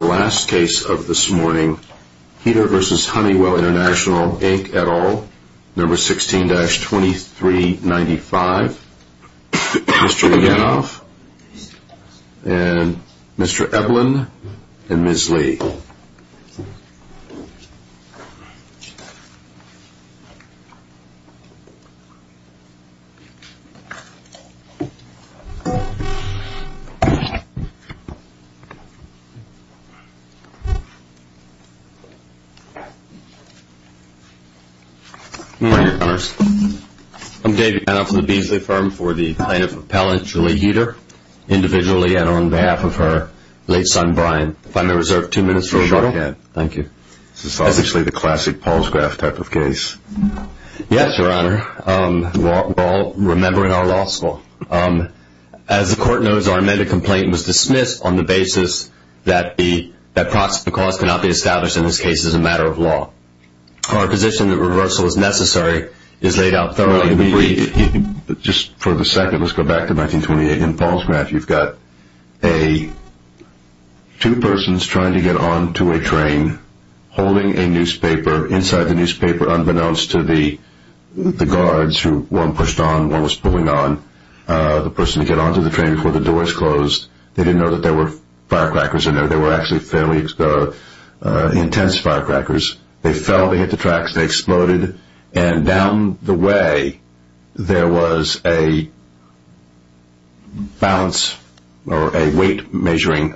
The last case of this morning, Heeter v. Honeywell International, Inc. et al., No. 16-2395. Mr. Yanov, and Mr. Ebelin, and Ms. Lee. I'm Dave Yanov from the Beasley firm for the plaintiff appellant, Julie Heeter. Individually and on behalf of her late son, Brian. If I may reserve two minutes for a short cut. Sure. Thank you. This is obviously the classic Paul's graph type of case. Yes, Your Honor. We're all remembering our law school. As the court knows, our amended complaint was dismissed on the basis that the cause cannot be established in this case as a matter of law. Our position that reversal is necessary is laid out thoroughly. Just for the second, let's go back to 1928. In Paul's graph, you've got two persons trying to get onto a train, holding a newspaper. Unbeknownst to the guards who one pushed on, one was pulling on, the person who got onto the train before the doors closed, they didn't know that there were firecrackers in there. There were actually fairly intense firecrackers. They fell, they hit the tracks, they exploded. And down the way, there was a balance or a weight measuring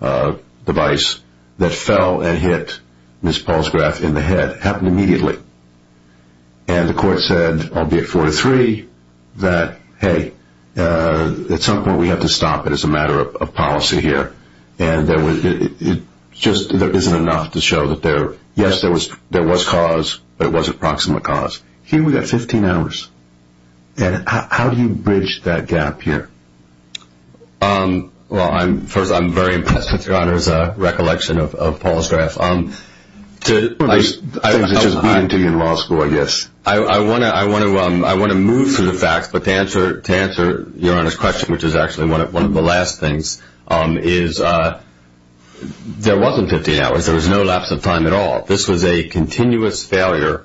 device that fell and hit Ms. Paul's graph in the head. That happened immediately. And the court said, albeit 4-3, that, hey, at some point we have to stop it as a matter of policy here. And it just isn't enough to show that, yes, there was cause, but it wasn't proximate cause. Here we've got 15 hours. How do you bridge that gap here? Well, first, I'm very impressed with Your Honor's recollection of Paul's graph. I think it's just beating to you in law school, I guess. I want to move to the facts, but to answer Your Honor's question, which is actually one of the last things, is there wasn't 15 hours. There was no lapse of time at all. This was a continuous failure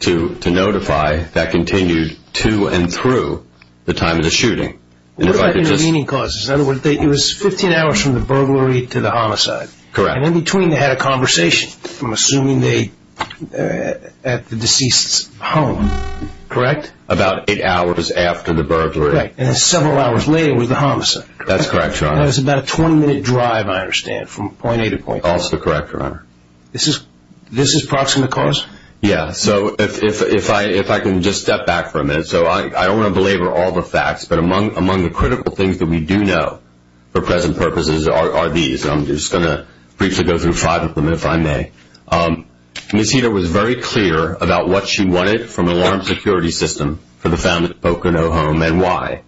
to notify that continued to and through the time of the shooting. What about intervening causes? In other words, it was 15 hours from the burglary to the homicide. Correct. And in between they had a conversation, I'm assuming at the deceased's home. Correct. About eight hours after the burglary. Correct. And then several hours later was the homicide. That's correct, Your Honor. That was about a 20-minute drive, I understand, from point A to point B. Also correct, Your Honor. This is proximate cause? Yeah. So if I can just step back for a minute. So I don't want to belabor all the facts, but among the critical things that we do know for present purposes are these. I'm just going to briefly go through five of them, if I may. Ms. Heater was very clear about what she wanted from an alarm security system for the family's Pocono home and why.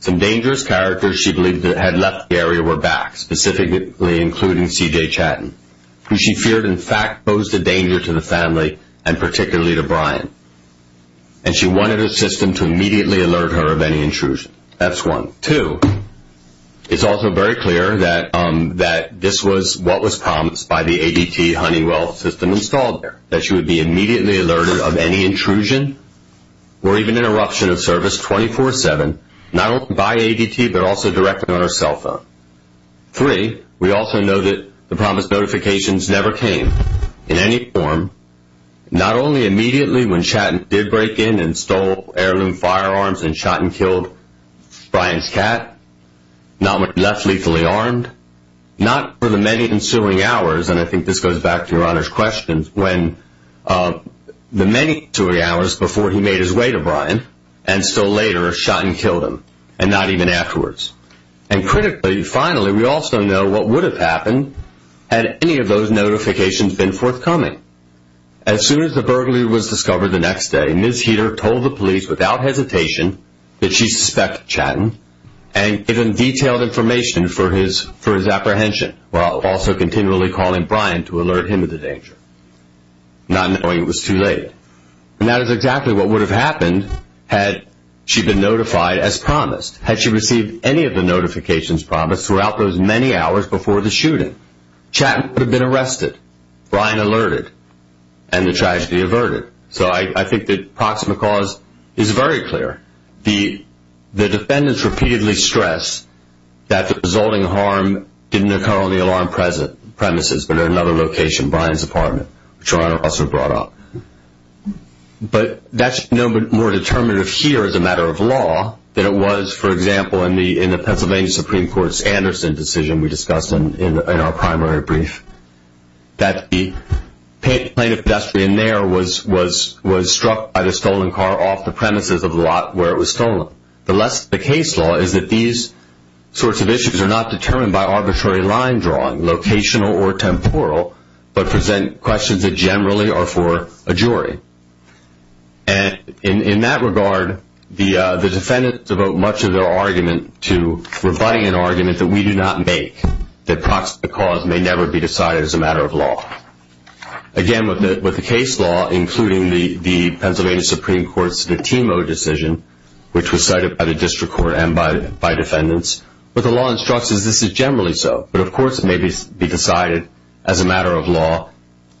Some dangerous characters she believed had left the area were back, specifically including C.J. Chattin, who she feared in fact posed a danger to the family and particularly to Brian. And she wanted her system to immediately alert her of any intrusion. That's one. Two, it's also very clear that this was what was promised by the ADT Honeywell system installed there, that she would be immediately alerted of any intrusion or even interruption of service 24-7, not only by ADT but also directly on her cell phone. Three, we also know that the promised notifications never came in any form, not only immediately when Chattin did break in and stole heirloom firearms and Chattin killed Brian's cat, not when he left lethally armed, not for the many ensuing hours, and I think this goes back to your Honor's question, when the many ensuing hours before he made his way to Brian and still later Chattin killed him and not even afterwards. And critically, finally, we also know what would have happened had any of those notifications been forthcoming. As soon as the burglary was discovered the next day, Ms. Heater told the police without hesitation that she suspected Chattin and given detailed information for his apprehension while also continually calling Brian to alert him of the danger, not knowing it was too late. And that is exactly what would have happened had she been notified as promised, had she received any of the notifications promised throughout those many hours before the shooting. Chattin would have been arrested, Brian alerted, and the tragedy averted. So I think the proximate cause is very clear. The defendants repeatedly stress that the resulting harm didn't occur on the alarm premises but at another location, Brian's apartment, which your Honor also brought up. But that's no more determinative here as a matter of law than it was, for example, in the Pennsylvania Supreme Court's Anderson decision we discussed in our primary brief, that the plaintiff pedestrian there was struck by the stolen car off the premises of the lot where it was stolen. The case law is that these sorts of issues are not determined by arbitrary line drawing, locational or temporal, but present questions that generally are for a jury. And in that regard, the defendants devote much of their argument to providing an argument that we do not make, that proximate cause may never be decided as a matter of law. Again, with the case law, including the Pennsylvania Supreme Court's de Timo decision, which was cited by the district court and by defendants, what the law instructs is this is generally so. But of course, it may be decided as a matter of law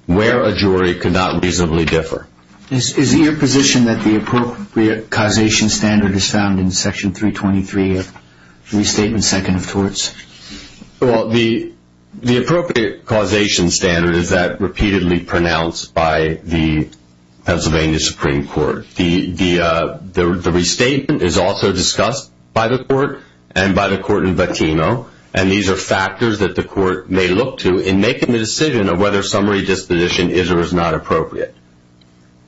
where a jury could not reasonably differ. Is it your position that the appropriate causation standard is found in Section 323 of the Restatement Second of Torts? Well, the appropriate causation standard is that repeatedly pronounced by the Pennsylvania Supreme Court. The restatement is also discussed by the court and by the court in de Timo, and these are factors that the court may look to in making the decision of whether summary disposition is or is not appropriate.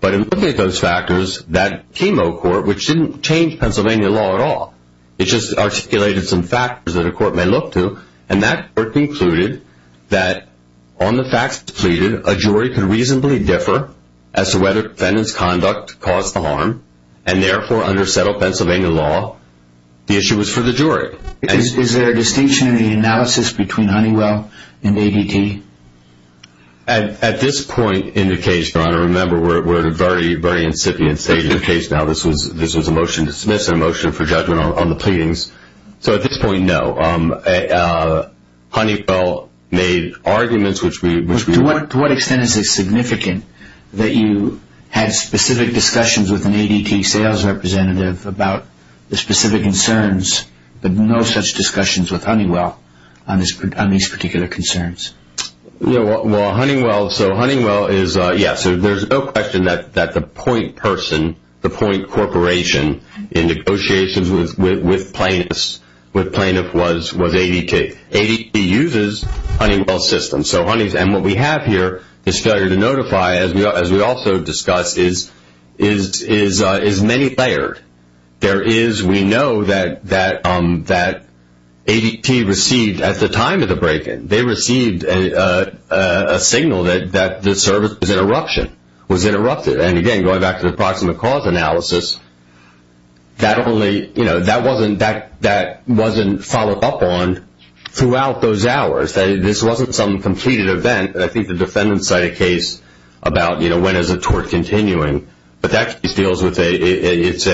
But in looking at those factors, that de Timo court, which didn't change Pennsylvania law at all, it just articulated some factors that a court may look to, and that court concluded that on the facts pleaded, a jury could reasonably differ as to whether defendants' conduct caused the harm, and therefore under settled Pennsylvania law, the issue was for the jury. Is there a distinction in the analysis between Honeywell and ADT? At this point in the case, Your Honor, remember we're at a very, very incipient stage of the case now. This was a motion to dismiss and a motion for judgment on the pleadings. So at this point, no. Honeywell made arguments which we... To what extent is it significant that you had specific discussions with an ADT sales representative about the specific concerns but no such discussions with Honeywell on these particular concerns? Well, Honeywell, so Honeywell is... Yes, so there's no question that the point person, the point corporation in negotiations with plaintiffs was ADT. ADT uses Honeywell's system. And what we have here, this failure to notify, as we also discussed, is many-layered. There is, we know that ADT received, at the time of the break-in, they received a signal that the service was interrupted. And again, going back to the approximate cause analysis, that wasn't followed up on throughout those hours. This wasn't some completed event. I think the defendant cited a case about when is a tort continuing. But that case deals with a, it's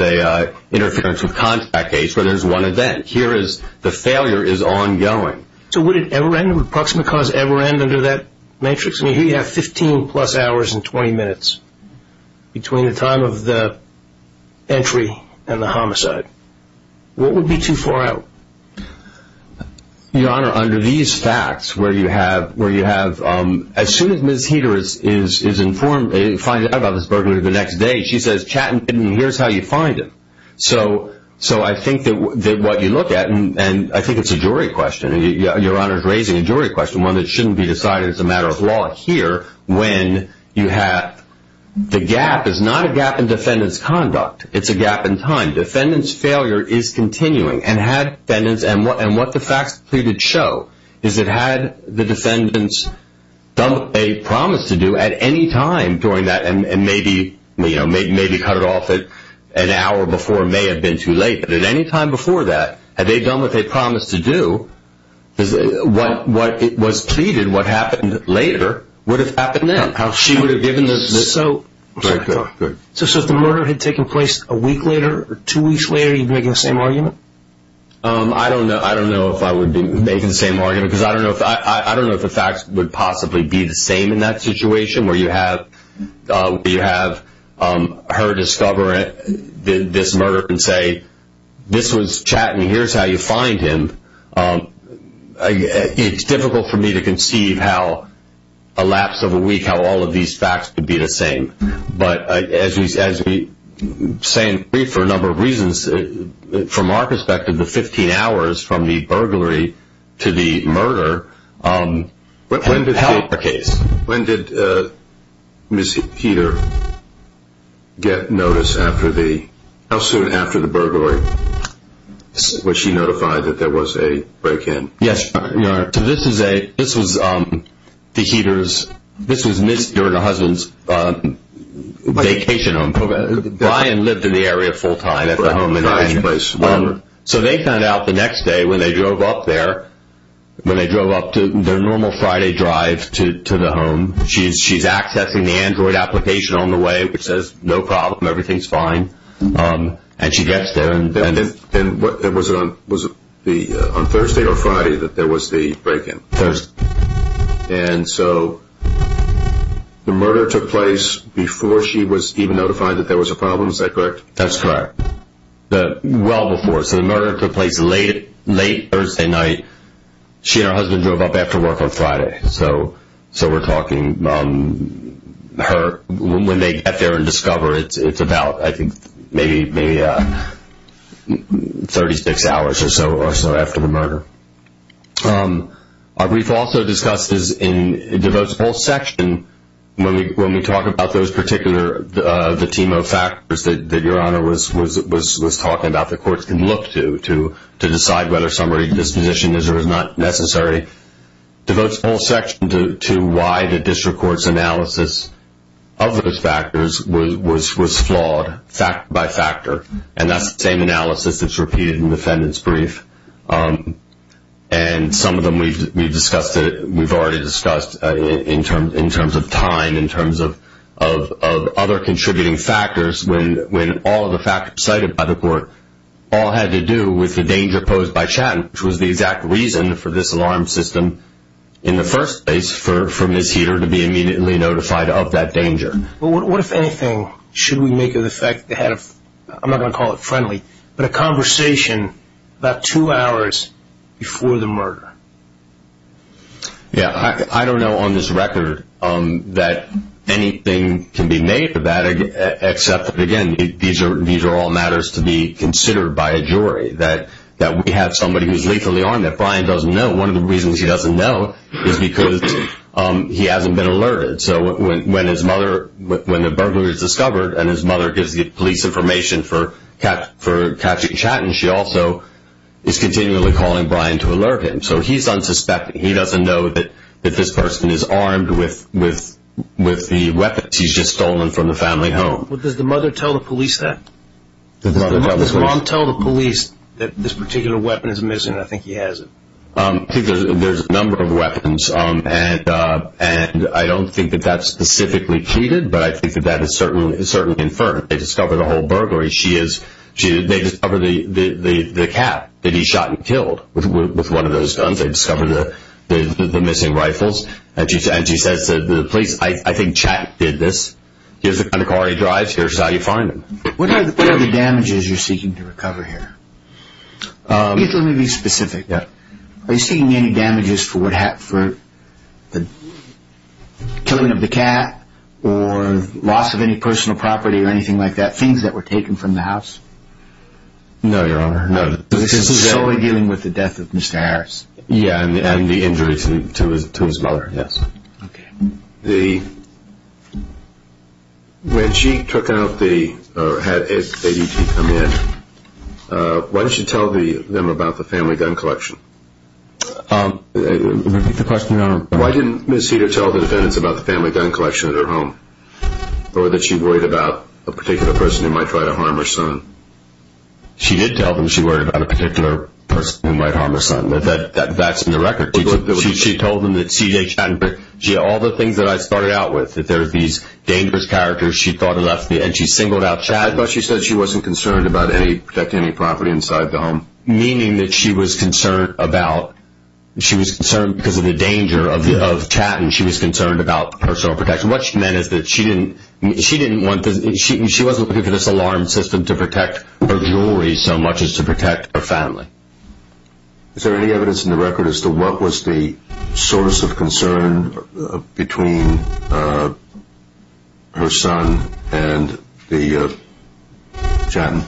a interference of contact case where there's one event. Here is, the failure is ongoing. So would it ever end? Would approximate cause ever end under that matrix? I mean, here you have 15-plus hours and 20 minutes between the time of the entry and the homicide. What would be too far out? Your Honor, under these facts, where you have, as soon as Ms. Heeter is informed, finding out about this burglary the next day, she says, chat and here's how you find it. So I think that what you look at, and I think it's a jury question, and Your Honor's raising a jury question, one that shouldn't be decided as a matter of law here, when you have, the gap is not a gap in defendant's conduct. It's a gap in time. Defendant's failure is continuing. And had defendants, and what the facts pleaded show, is that had the defendants done what they promised to do at any time during that, and maybe cut it off an hour before, it may have been too late. But at any time before that, had they done what they promised to do, what was pleaded, what happened later, would have happened then. How she would have given this. So if the murder had taken place a week later, or two weeks later, are you making the same argument? I don't know if I would be making the same argument, because I don't know if the facts would possibly be the same in that situation, where you have her discover this murder and say, this was chat and here's how you find him. It's difficult for me to conceive how a lapse of a week, how all of these facts could be the same. But as we say in brief for a number of reasons, from our perspective, the 15 hours from the burglary to the murder helped the case. When did Ms. Heeter get notice after the, how soon after the burglary? Was she notified that there was a break in? Yes. So this was a, this was the Heeters, this was Ms. Heeter and her husband's vacation home. Brian lived in the area full time at the home. Brian's place. So they found out the next day when they drove up there, when they drove up to their normal Friday drive to the home. She's accessing the Android application on the way, which says no problem, everything's fine. And she gets there. And was it on Thursday or Friday that there was the break in? Thursday. And so the murder took place before she was even notified that there was a problem, is that correct? That's correct. Well before. So the murder took place late Thursday night. She and her husband drove up after work on Friday. So we're talking her, when they get there and discover, it's about, I think, maybe 36 hours or so after the murder. We've also discussed this in the votes poll section, when we talk about those particular, the team of factors that Your Honor was talking about, the courts can look to, to decide whether somebody's disposition is or is not necessary. The votes poll section to why the district court's analysis of those factors was flawed, factor by factor. And that's the same analysis that's repeated in the defendant's brief. And some of them we've discussed, we've already discussed, in terms of time, in terms of other contributing factors, when all of the factors cited by the court all had to do with the danger posed by Shatton, which was the exact reason for this alarm system in the first place for Ms. Heater to be immediately notified of that danger. But what, if anything, should we make of the fact that they had a, I'm not going to call it friendly, but a conversation about two hours before the murder? Yeah, I don't know on this record that anything can be made of that, except that, again, these are all matters to be considered by a jury, that we have somebody who's lethally armed that Brian doesn't know. One of the reasons he doesn't know is because he hasn't been alerted. So when the burglar is discovered and his mother gives the police information for capturing Shatton, she also is continually calling Brian to alert him. So he's unsuspecting. He doesn't know that this person is armed with the weapons he's just stolen from the family home. Does the mother tell the police that? Does the mother tell the police that this particular weapon is missing? I think he has it. I think there's a number of weapons, and I don't think that that's specifically treated, but I think that that is certainly inferred. They discover the whole burglary. They discover the cat that he shot and killed with one of those guns. They discover the missing rifles. And she says to the police, I think Shatton did this. Here's the kind of car he drives. Here's how you find him. What are the damages you're seeking to recover here? Let me be specific. Are you seeking any damages for the killing of the cat or loss of any personal property or anything like that, things that were taken from the house? No, Your Honor, no. This is solely dealing with the death of Mr. Harris. Yeah, and the injuries to his mother, yes. Okay. When she took out the, or had ADT come in, why didn't she tell them about the family gun collection? Repeat the question, Your Honor. Why didn't Ms. Heder tell the defendants about the family gun collection at her home or that she worried about a particular person who might try to harm her son? She did tell them she worried about a particular person who might harm her son. That's in the record. She told them that CJ Chatton, all the things that I started out with, that there were these dangerous characters she thought had left me, and she singled out Chatton. I thought she said she wasn't concerned about protecting any property inside the home. Meaning that she was concerned about, she was concerned because of the danger of Chatton. She was concerned about personal protection. What she meant is that she didn't want, she wasn't looking for this alarm system to protect her jewelry so much as to protect her family. Is there any evidence in the record as to what was the source of concern between her son and Chatton?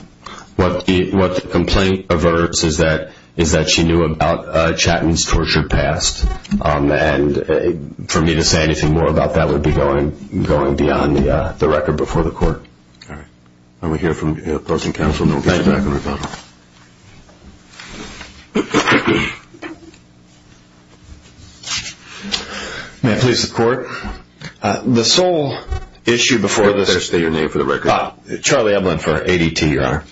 What the complaint averts is that she knew about Chatton's torture past. For me to say anything more about that would be going beyond the record before the court. All right. We'll hear from the opposing counsel and then we'll get back on the record. Thank you. May I please have the court? The sole issue before this… Please state your name for the record. Charlie Ebelin for ADT, Your Honor.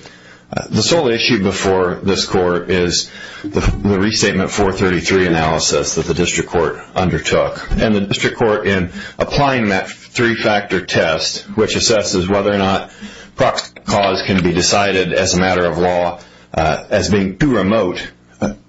The sole issue before this court is the restatement 433 analysis that the district court undertook. And the district court in applying that three-factor test, which assesses whether or not proximate cause can be decided as a matter of law as being too remote.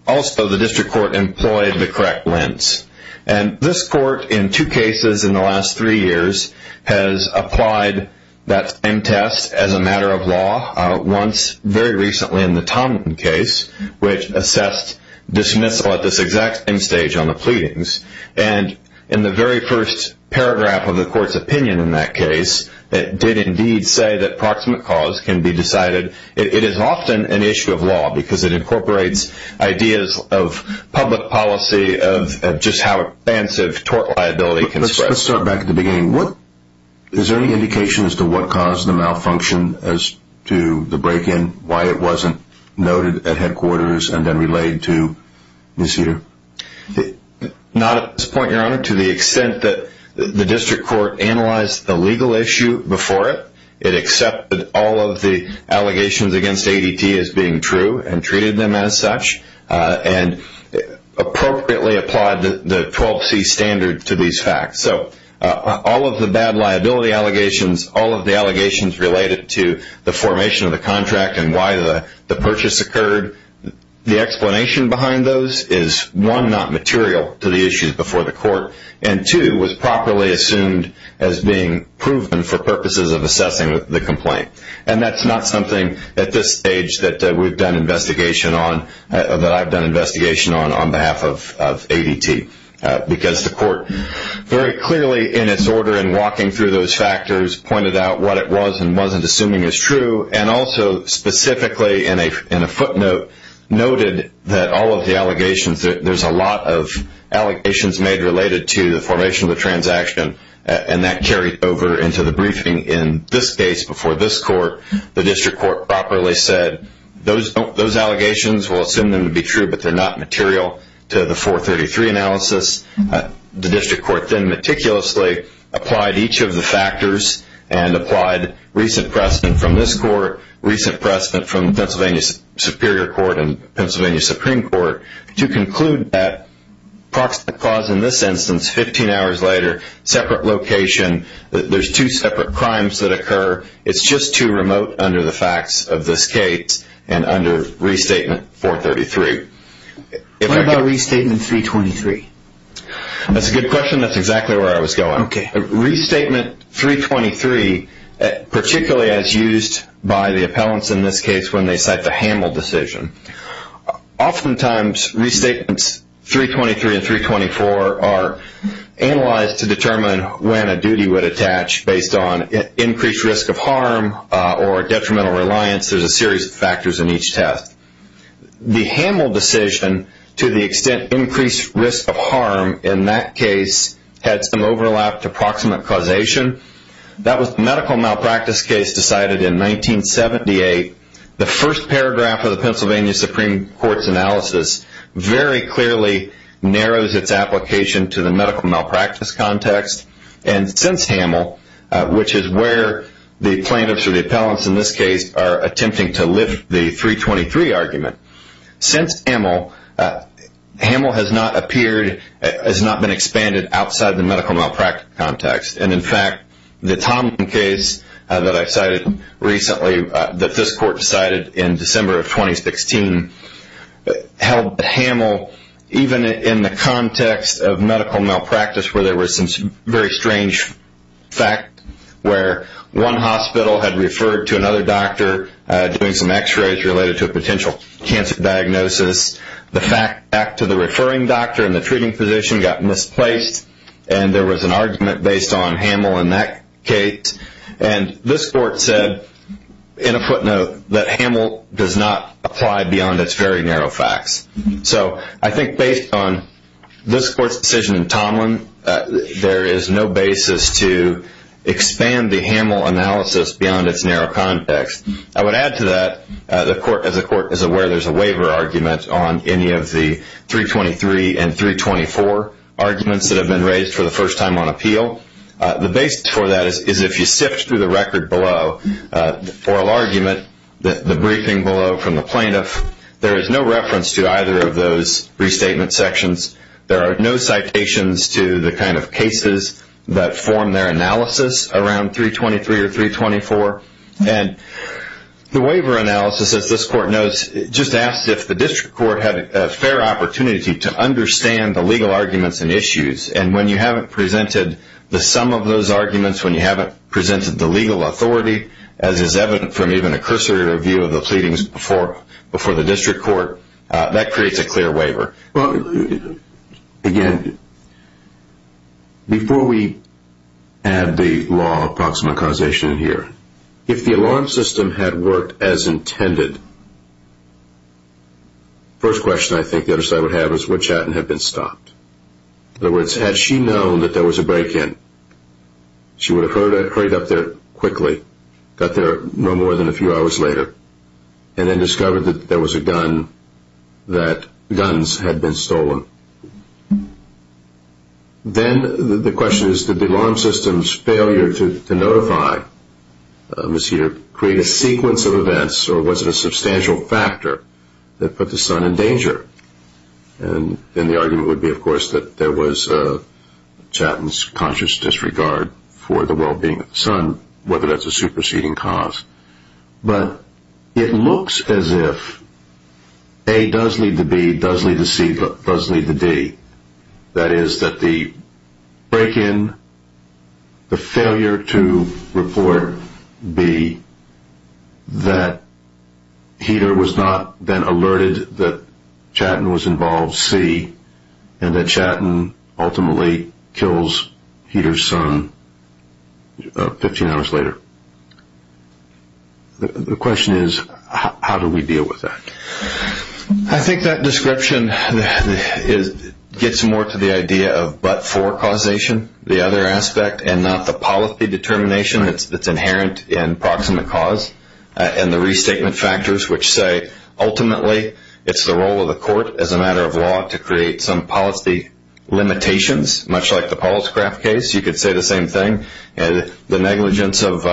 Also, the district court employed the correct lens. And this court in two cases in the last three years has applied that same test as a matter of law. Once very recently in the Tomlinson case, which assessed dismissal at this exact same stage on the pleadings. And in the very first paragraph of the court's opinion in that case, it did indeed say that proximate cause can be decided. It is often an issue of law because it incorporates ideas of public policy, of just how expansive tort liability can spread. Let's start back at the beginning. Is there any indication as to what caused the malfunction as to the break-in, why it wasn't noted at headquarters and then relayed to this year? Not at this point, Your Honor. To the extent that the district court analyzed the legal issue before it, it accepted all of the allegations against ADT as being true and treated them as such and appropriately applied the 12C standard to these facts. So all of the bad liability allegations, all of the allegations related to the formation of the contract and why the purchase occurred, the explanation behind those is, one, not material to the issues before the court, and two, was properly assumed as being proven for purposes of assessing the complaint. And that's not something at this stage that we've done investigation on, that I've done investigation on on behalf of ADT because the court very clearly in its order in walking through those factors pointed out what it was and wasn't assuming is true and also specifically in a footnote noted that all of the allegations, there's a lot of allegations made related to the formation of the transaction and that carried over into the briefing in this case before this court. The district court properly said those allegations, we'll assume them to be true, but they're not material to the 433 analysis. and applied recent precedent from this court, recent precedent from Pennsylvania Superior Court and Pennsylvania Supreme Court to conclude that proximate cause in this instance, 15 hours later, separate location, there's two separate crimes that occur, it's just too remote under the facts of this case and under Restatement 433. What about Restatement 323? That's a good question. That's exactly where I was going. Okay. Restatement 323, particularly as used by the appellants in this case when they cite the Hamel decision. Oftentimes, Restatements 323 and 324 are analyzed to determine when a duty would attach based on increased risk of harm or detrimental reliance. There's a series of factors in each test. The Hamel decision, to the extent increased risk of harm in that case had some overlap to proximate causation. That was the medical malpractice case decided in 1978. The first paragraph of the Pennsylvania Supreme Court's analysis very clearly narrows its application to the medical malpractice context and since Hamel, which is where the plaintiffs or the appellants in this case are attempting to lift the 323 argument. Since Hamel, Hamel has not been expanded outside the medical malpractice context. In fact, the Tomlin case that I cited recently that this court decided in December of 2016 held that Hamel, even in the context of medical malpractice where there were some very strange facts, where one hospital had referred to another doctor doing some x-rays related to a potential cancer diagnosis. The fact back to the referring doctor and the treating physician got misplaced and there was an argument based on Hamel in that case. And this court said, in a footnote, that Hamel does not apply beyond its very narrow facts. So I think based on this court's decision in Tomlin, there is no basis to expand the Hamel analysis beyond its narrow context. I would add to that, as the court is aware, there is a waiver argument on any of the 323 and 324 arguments that have been raised for the first time on appeal. The basis for that is if you sift through the record below, the oral argument, the briefing below from the plaintiff, there is no reference to either of those restatement sections. There are no citations to the kind of cases that form their analysis around 323 or 324. And the waiver analysis, as this court knows, just asks if the district court had a fair opportunity to understand the legal arguments and issues. And when you haven't presented the sum of those arguments, when you haven't presented the legal authority, as is evident from even a cursory review of the pleadings before the district court, that creates a clear waiver. Again, before we add the law of proximate causation here, if the alarm system had worked as intended, the first question I think the other side would have is would Chatton have been stopped? In other words, had she known that there was a break-in, she would have hurried up there quickly, got there no more than a few hours later, and then discovered that there was a gun, that guns had been stolen. Then the question is did the alarm system's failure to notify Ms. Heater create a sequence of events or was it a substantial factor that put the son in danger? And the argument would be, of course, that there was Chatton's conscious disregard for the well-being of the son, whether that's a superseding cause. But it looks as if A does lead to B, does lead to C, does lead to D. That is that the break-in, the failure to report B, that Heater was not then alerted that Chatton was involved, C, and that Chatton ultimately kills Heater's son 15 hours later. The question is how do we deal with that? I think that description gets more to the idea of but-for causation, the other aspect, and not the policy determination that's inherent in proximate cause and the restatement factors which say ultimately it's the role of the court, as a matter of law, to create some policy limitations, much like the Pauluscraft case. You could say the same thing. The negligence of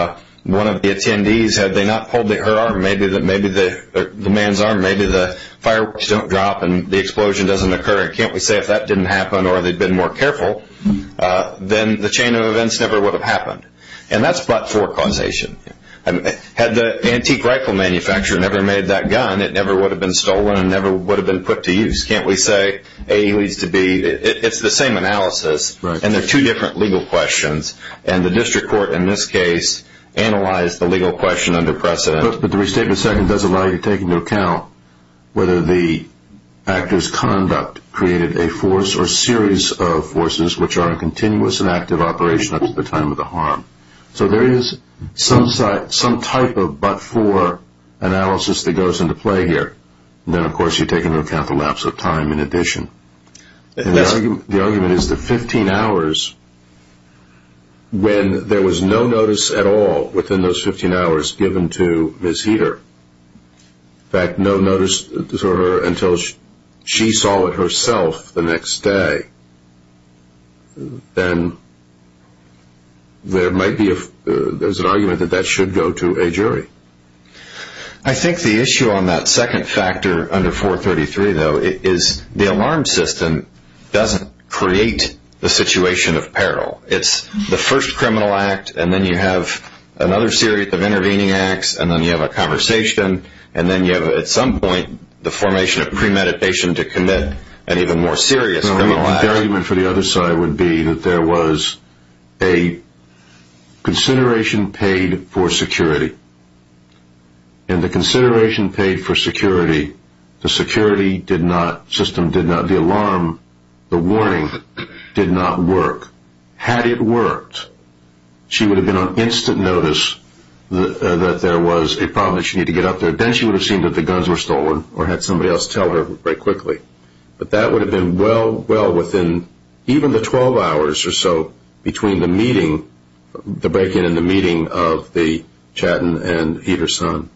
one of the attendees, had they not pulled her arm, maybe the man's arm, maybe the fireworks don't drop and the explosion doesn't occur. Can't we say if that didn't happen or they'd been more careful, then the chain of events never would have happened. And that's but-for causation. Had the antique rifle manufacturer never made that gun, it never would have been stolen and never would have been put to use. Can't we say A leads to B? It's the same analysis, and they're two different legal questions, and the district court in this case analyzed the legal question under precedent. But the restatement second does allow you to take into account whether the actor's conduct created a force or series of forces which are in continuous and active operation up to the time of the harm. So there is some type of but-for analysis that goes into play here. Then, of course, you take into account the lapse of time in addition. The argument is that 15 hours, when there was no notice at all within those 15 hours given to Ms. Heeter, in fact, no notice to her until she saw it herself the next day, then there's an argument that that should go to a jury. I think the issue on that second factor under 433, though, is the alarm system doesn't create the situation of peril. It's the first criminal act, and then you have another series of intervening acts, and then you have a conversation, and then you have, at some point, the formation of premeditation to commit an even more serious criminal act. The argument for the other side would be that there was a consideration paid for security, and the consideration paid for security, the alarm, the warning, did not work. Had it worked, she would have been on instant notice that there was a problem that she needed to get up there. Then she would have seen that the guns were stolen or had somebody else tell her very quickly. But that would have been well within even the 12 hours or so between the meeting, the break-in and the meeting of the Chattin and Heeter's son.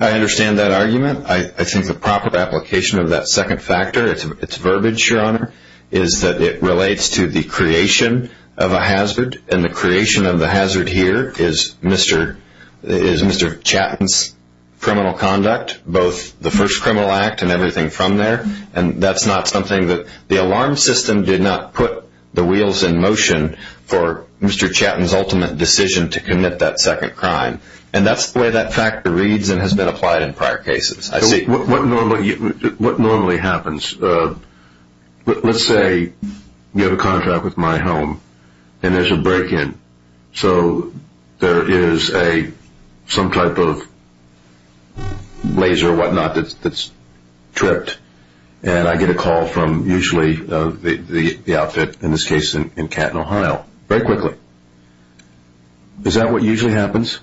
I understand that argument. I think the proper application of that second factor, its verbiage, Your Honor, is that it relates to the creation of a hazard, and the creation of the hazard here is Mr. Chattin's criminal conduct, both the first criminal act and everything from there. That's not something that the alarm system did not put the wheels in motion for Mr. Chattin's ultimate decision to commit that second crime. That's the way that factor reads and has been applied in prior cases. What normally happens? Let's say you have a contract with my home, and there's a break-in. So there is some type of laser or whatnot that's tripped, and I get a call from usually the outfit, in this case in Canton, Ohio, very quickly. Is that what usually happens?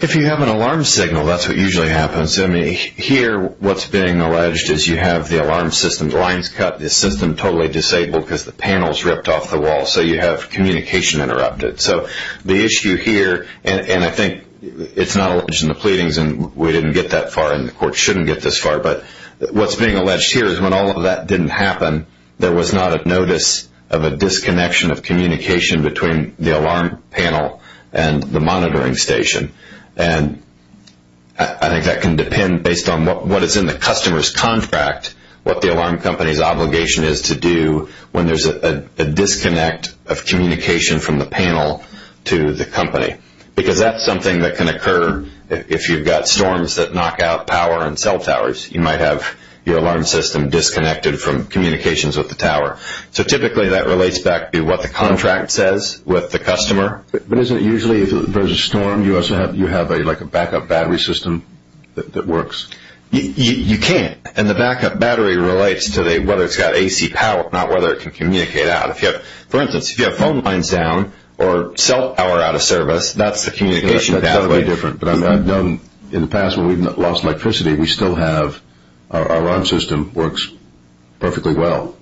If you have an alarm signal, that's what usually happens. Here what's being alleged is you have the alarm system's lines cut, the system totally disabled because the panel's ripped off the wall, so you have communication interrupted. So the issue here, and I think it's not alleged in the pleadings, and we didn't get that far and the court shouldn't get this far, but what's being alleged here is when all of that didn't happen, there was not a notice of a disconnection of communication between the alarm panel and the monitoring station. And I think that can depend based on what is in the customer's contract, what the alarm company's obligation is to do when there's a disconnect of communication from the panel to the company, because that's something that can occur if you've got storms that knock out power and cell towers. You might have your alarm system disconnected from communications with the tower. So typically that relates back to what the contract says with the customer. But isn't it usually if there's a storm, you have like a backup battery system that works? You can't, and the backup battery relates to whether it's got AC power, not whether it can communicate out. For instance, if you have phone lines down or cell power out of service, that's the communication pathway. That's totally different, but I've known in the past when we've lost electricity, we still have our alarm system works perfectly well.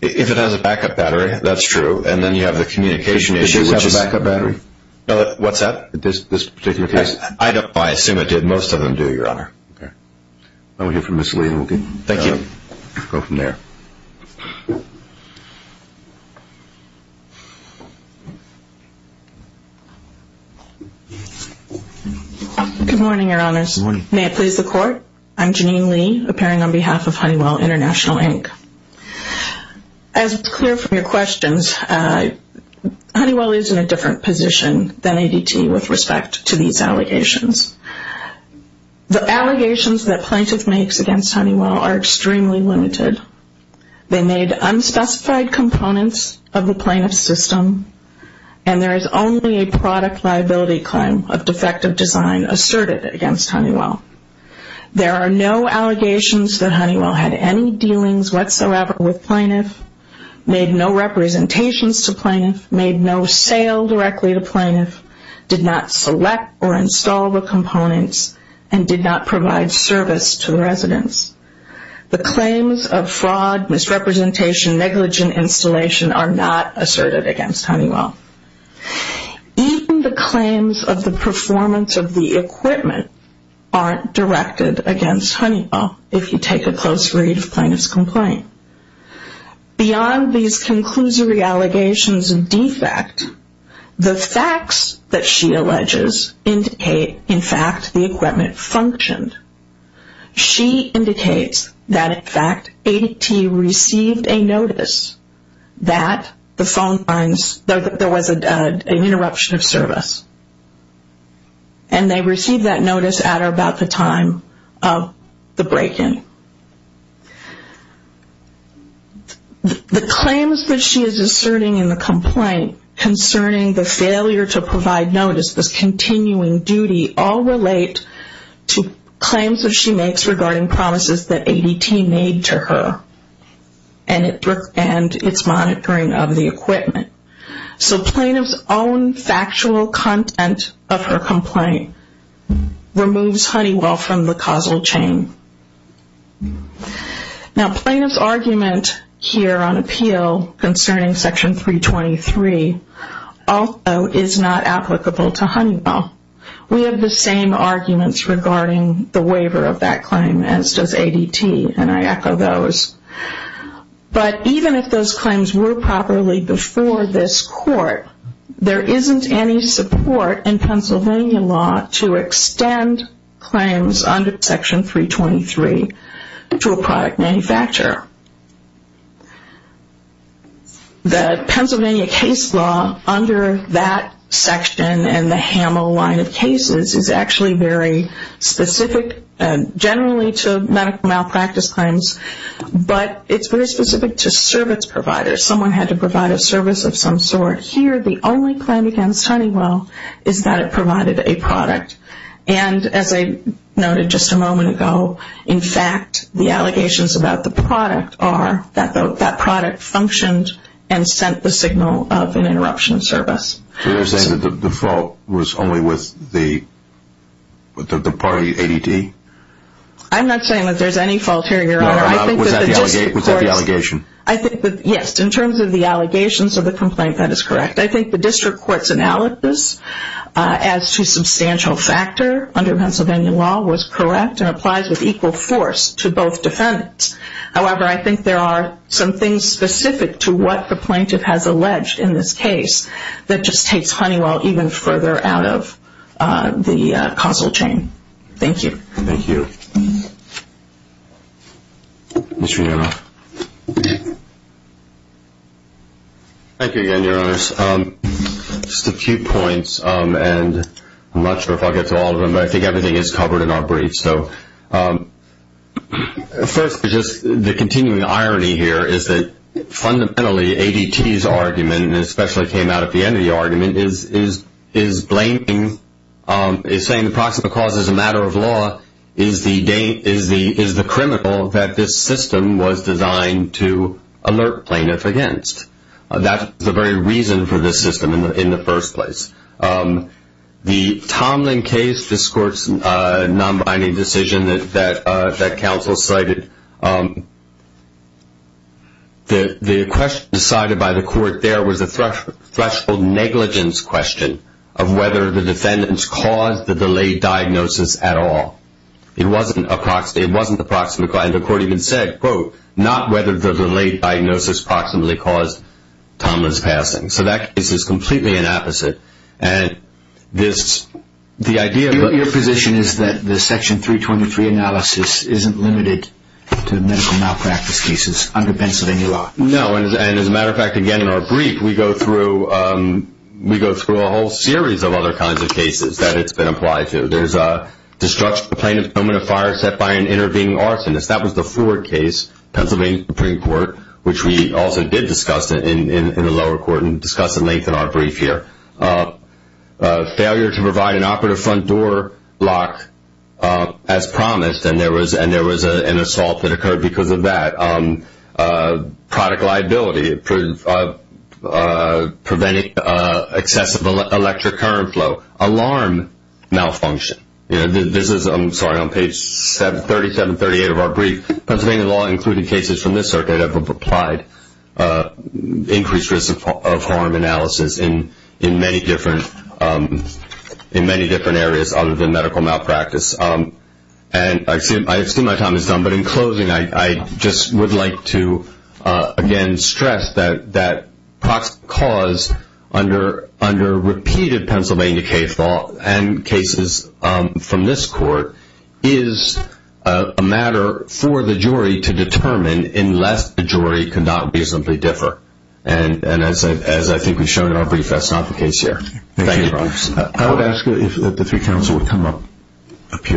If it has a backup battery, that's true, and then you have the communication issue. Does this have a backup battery? What's that? This particular case? I assume it did. Most of them do, Your Honor. We'll hear from Ms. Lee, and we'll go from there. Good morning, Your Honors. Good morning. May it please the Court? I'm Jeanine Lee, appearing on behalf of Honeywell International, Inc. As is clear from your questions, Honeywell is in a different position than ADT with respect to these allegations. The allegations that plaintiff makes against Honeywell are extremely limited. They made unspecified components of the plaintiff's system, and there is only a product liability claim of defective design asserted against Honeywell. There are no allegations that Honeywell had any dealings whatsoever with plaintiff, made no representations to plaintiff, made no sale directly to plaintiff, did not select or install the components, and did not provide service to the residents. The claims of fraud, misrepresentation, negligent installation are not asserted against Honeywell. Even the claims of the performance of the equipment aren't directed against Honeywell, if you take a close read of plaintiff's complaint. Beyond these conclusory allegations of defect, the facts that she alleges indicate, in fact, the equipment functioned. She indicates that, in fact, ADT received a notice that there was an interruption of service, and they received that notice at or about the time of the break-in. The claims that she is asserting in the complaint concerning the failure to provide notice, the continuing duty, all relate to claims that she makes regarding promises that ADT made to her, and its monitoring of the equipment. So plaintiff's own factual content of her complaint removes Honeywell from the causal chain. Now plaintiff's argument here on appeal concerning Section 323 also is not applicable to Honeywell. We have the same arguments regarding the waiver of that claim as does ADT, and I echo those. But even if those claims were properly before this court, there isn't any support in Pennsylvania law to extend claims under Section 323 to a product manufacturer. The Pennsylvania case law under that section and the HAMO line of cases is actually very specific, generally to medical malpractice claims, but it's very specific to service providers. If someone had to provide a service of some sort, here the only claim against Honeywell is that it provided a product. And as I noted just a moment ago, in fact, the allegations about the product are that that product functioned and sent the signal of an interruption of service. So you're saying that the fault was only with the party, ADT? I'm not saying that there's any fault here, Your Honor. Was that the allegation? I think that, yes, in terms of the allegations of the complaint, that is correct. I think the district court's analysis as to substantial factor under Pennsylvania law was correct and applies with equal force to both defendants. However, I think there are some things specific to what the plaintiff has alleged in this case that just takes Honeywell even further out of the causal chain. Thank you. Thank you. Mr. Neroff. Thank you again, Your Honors. Just a few points, and I'm not sure if I'll get to all of them, but I think everything is covered in our briefs. So first, just the continuing irony here is that fundamentally ADT's argument, and it especially came out at the end of the argument, is blaming, is saying the proximate cause is a matter of law, is the criminal that this system was designed to alert plaintiffs against. That's the very reason for this system in the first place. The Tomlin case, this court's non-binding decision that counsel cited, the question decided by the court there was a threshold negligence question of whether the defendants caused the delayed diagnosis at all. It wasn't approximately, and the court even said, quote, not whether the delayed diagnosis proximately caused Tomlin's passing. So that case is completely an opposite, and this, the idea of a Your position is that the Section 323 analysis isn't limited to medical malpractice cases under Pennsylvania law. No, and as a matter of fact, again, in our brief, we go through a whole series of other kinds of cases that it's been applied to. There's a plaintiff coming to fire set by an intervening arsonist. That was the Ford case, Pennsylvania Supreme Court, which we also did discuss in the lower court and discuss at length in our brief here. Failure to provide an operative front door lock as promised, and there was an assault that occurred because of that. Product liability, preventing accessible electric current flow, alarm malfunction. This is, I'm sorry, on page 37, 38 of our brief. Pennsylvania law, including cases from this circuit, have applied increased risk of harm analysis in many different areas other than medical malpractice. And I assume my time is done, but in closing, I just would like to, again, stress that that cause under repeated Pennsylvania case law and cases from this court is a matter for the jury to determine unless the jury cannot reasonably differ. And as I think we've shown in our brief, that's not the case here. Thank you. I would ask that the three counsel would come up here.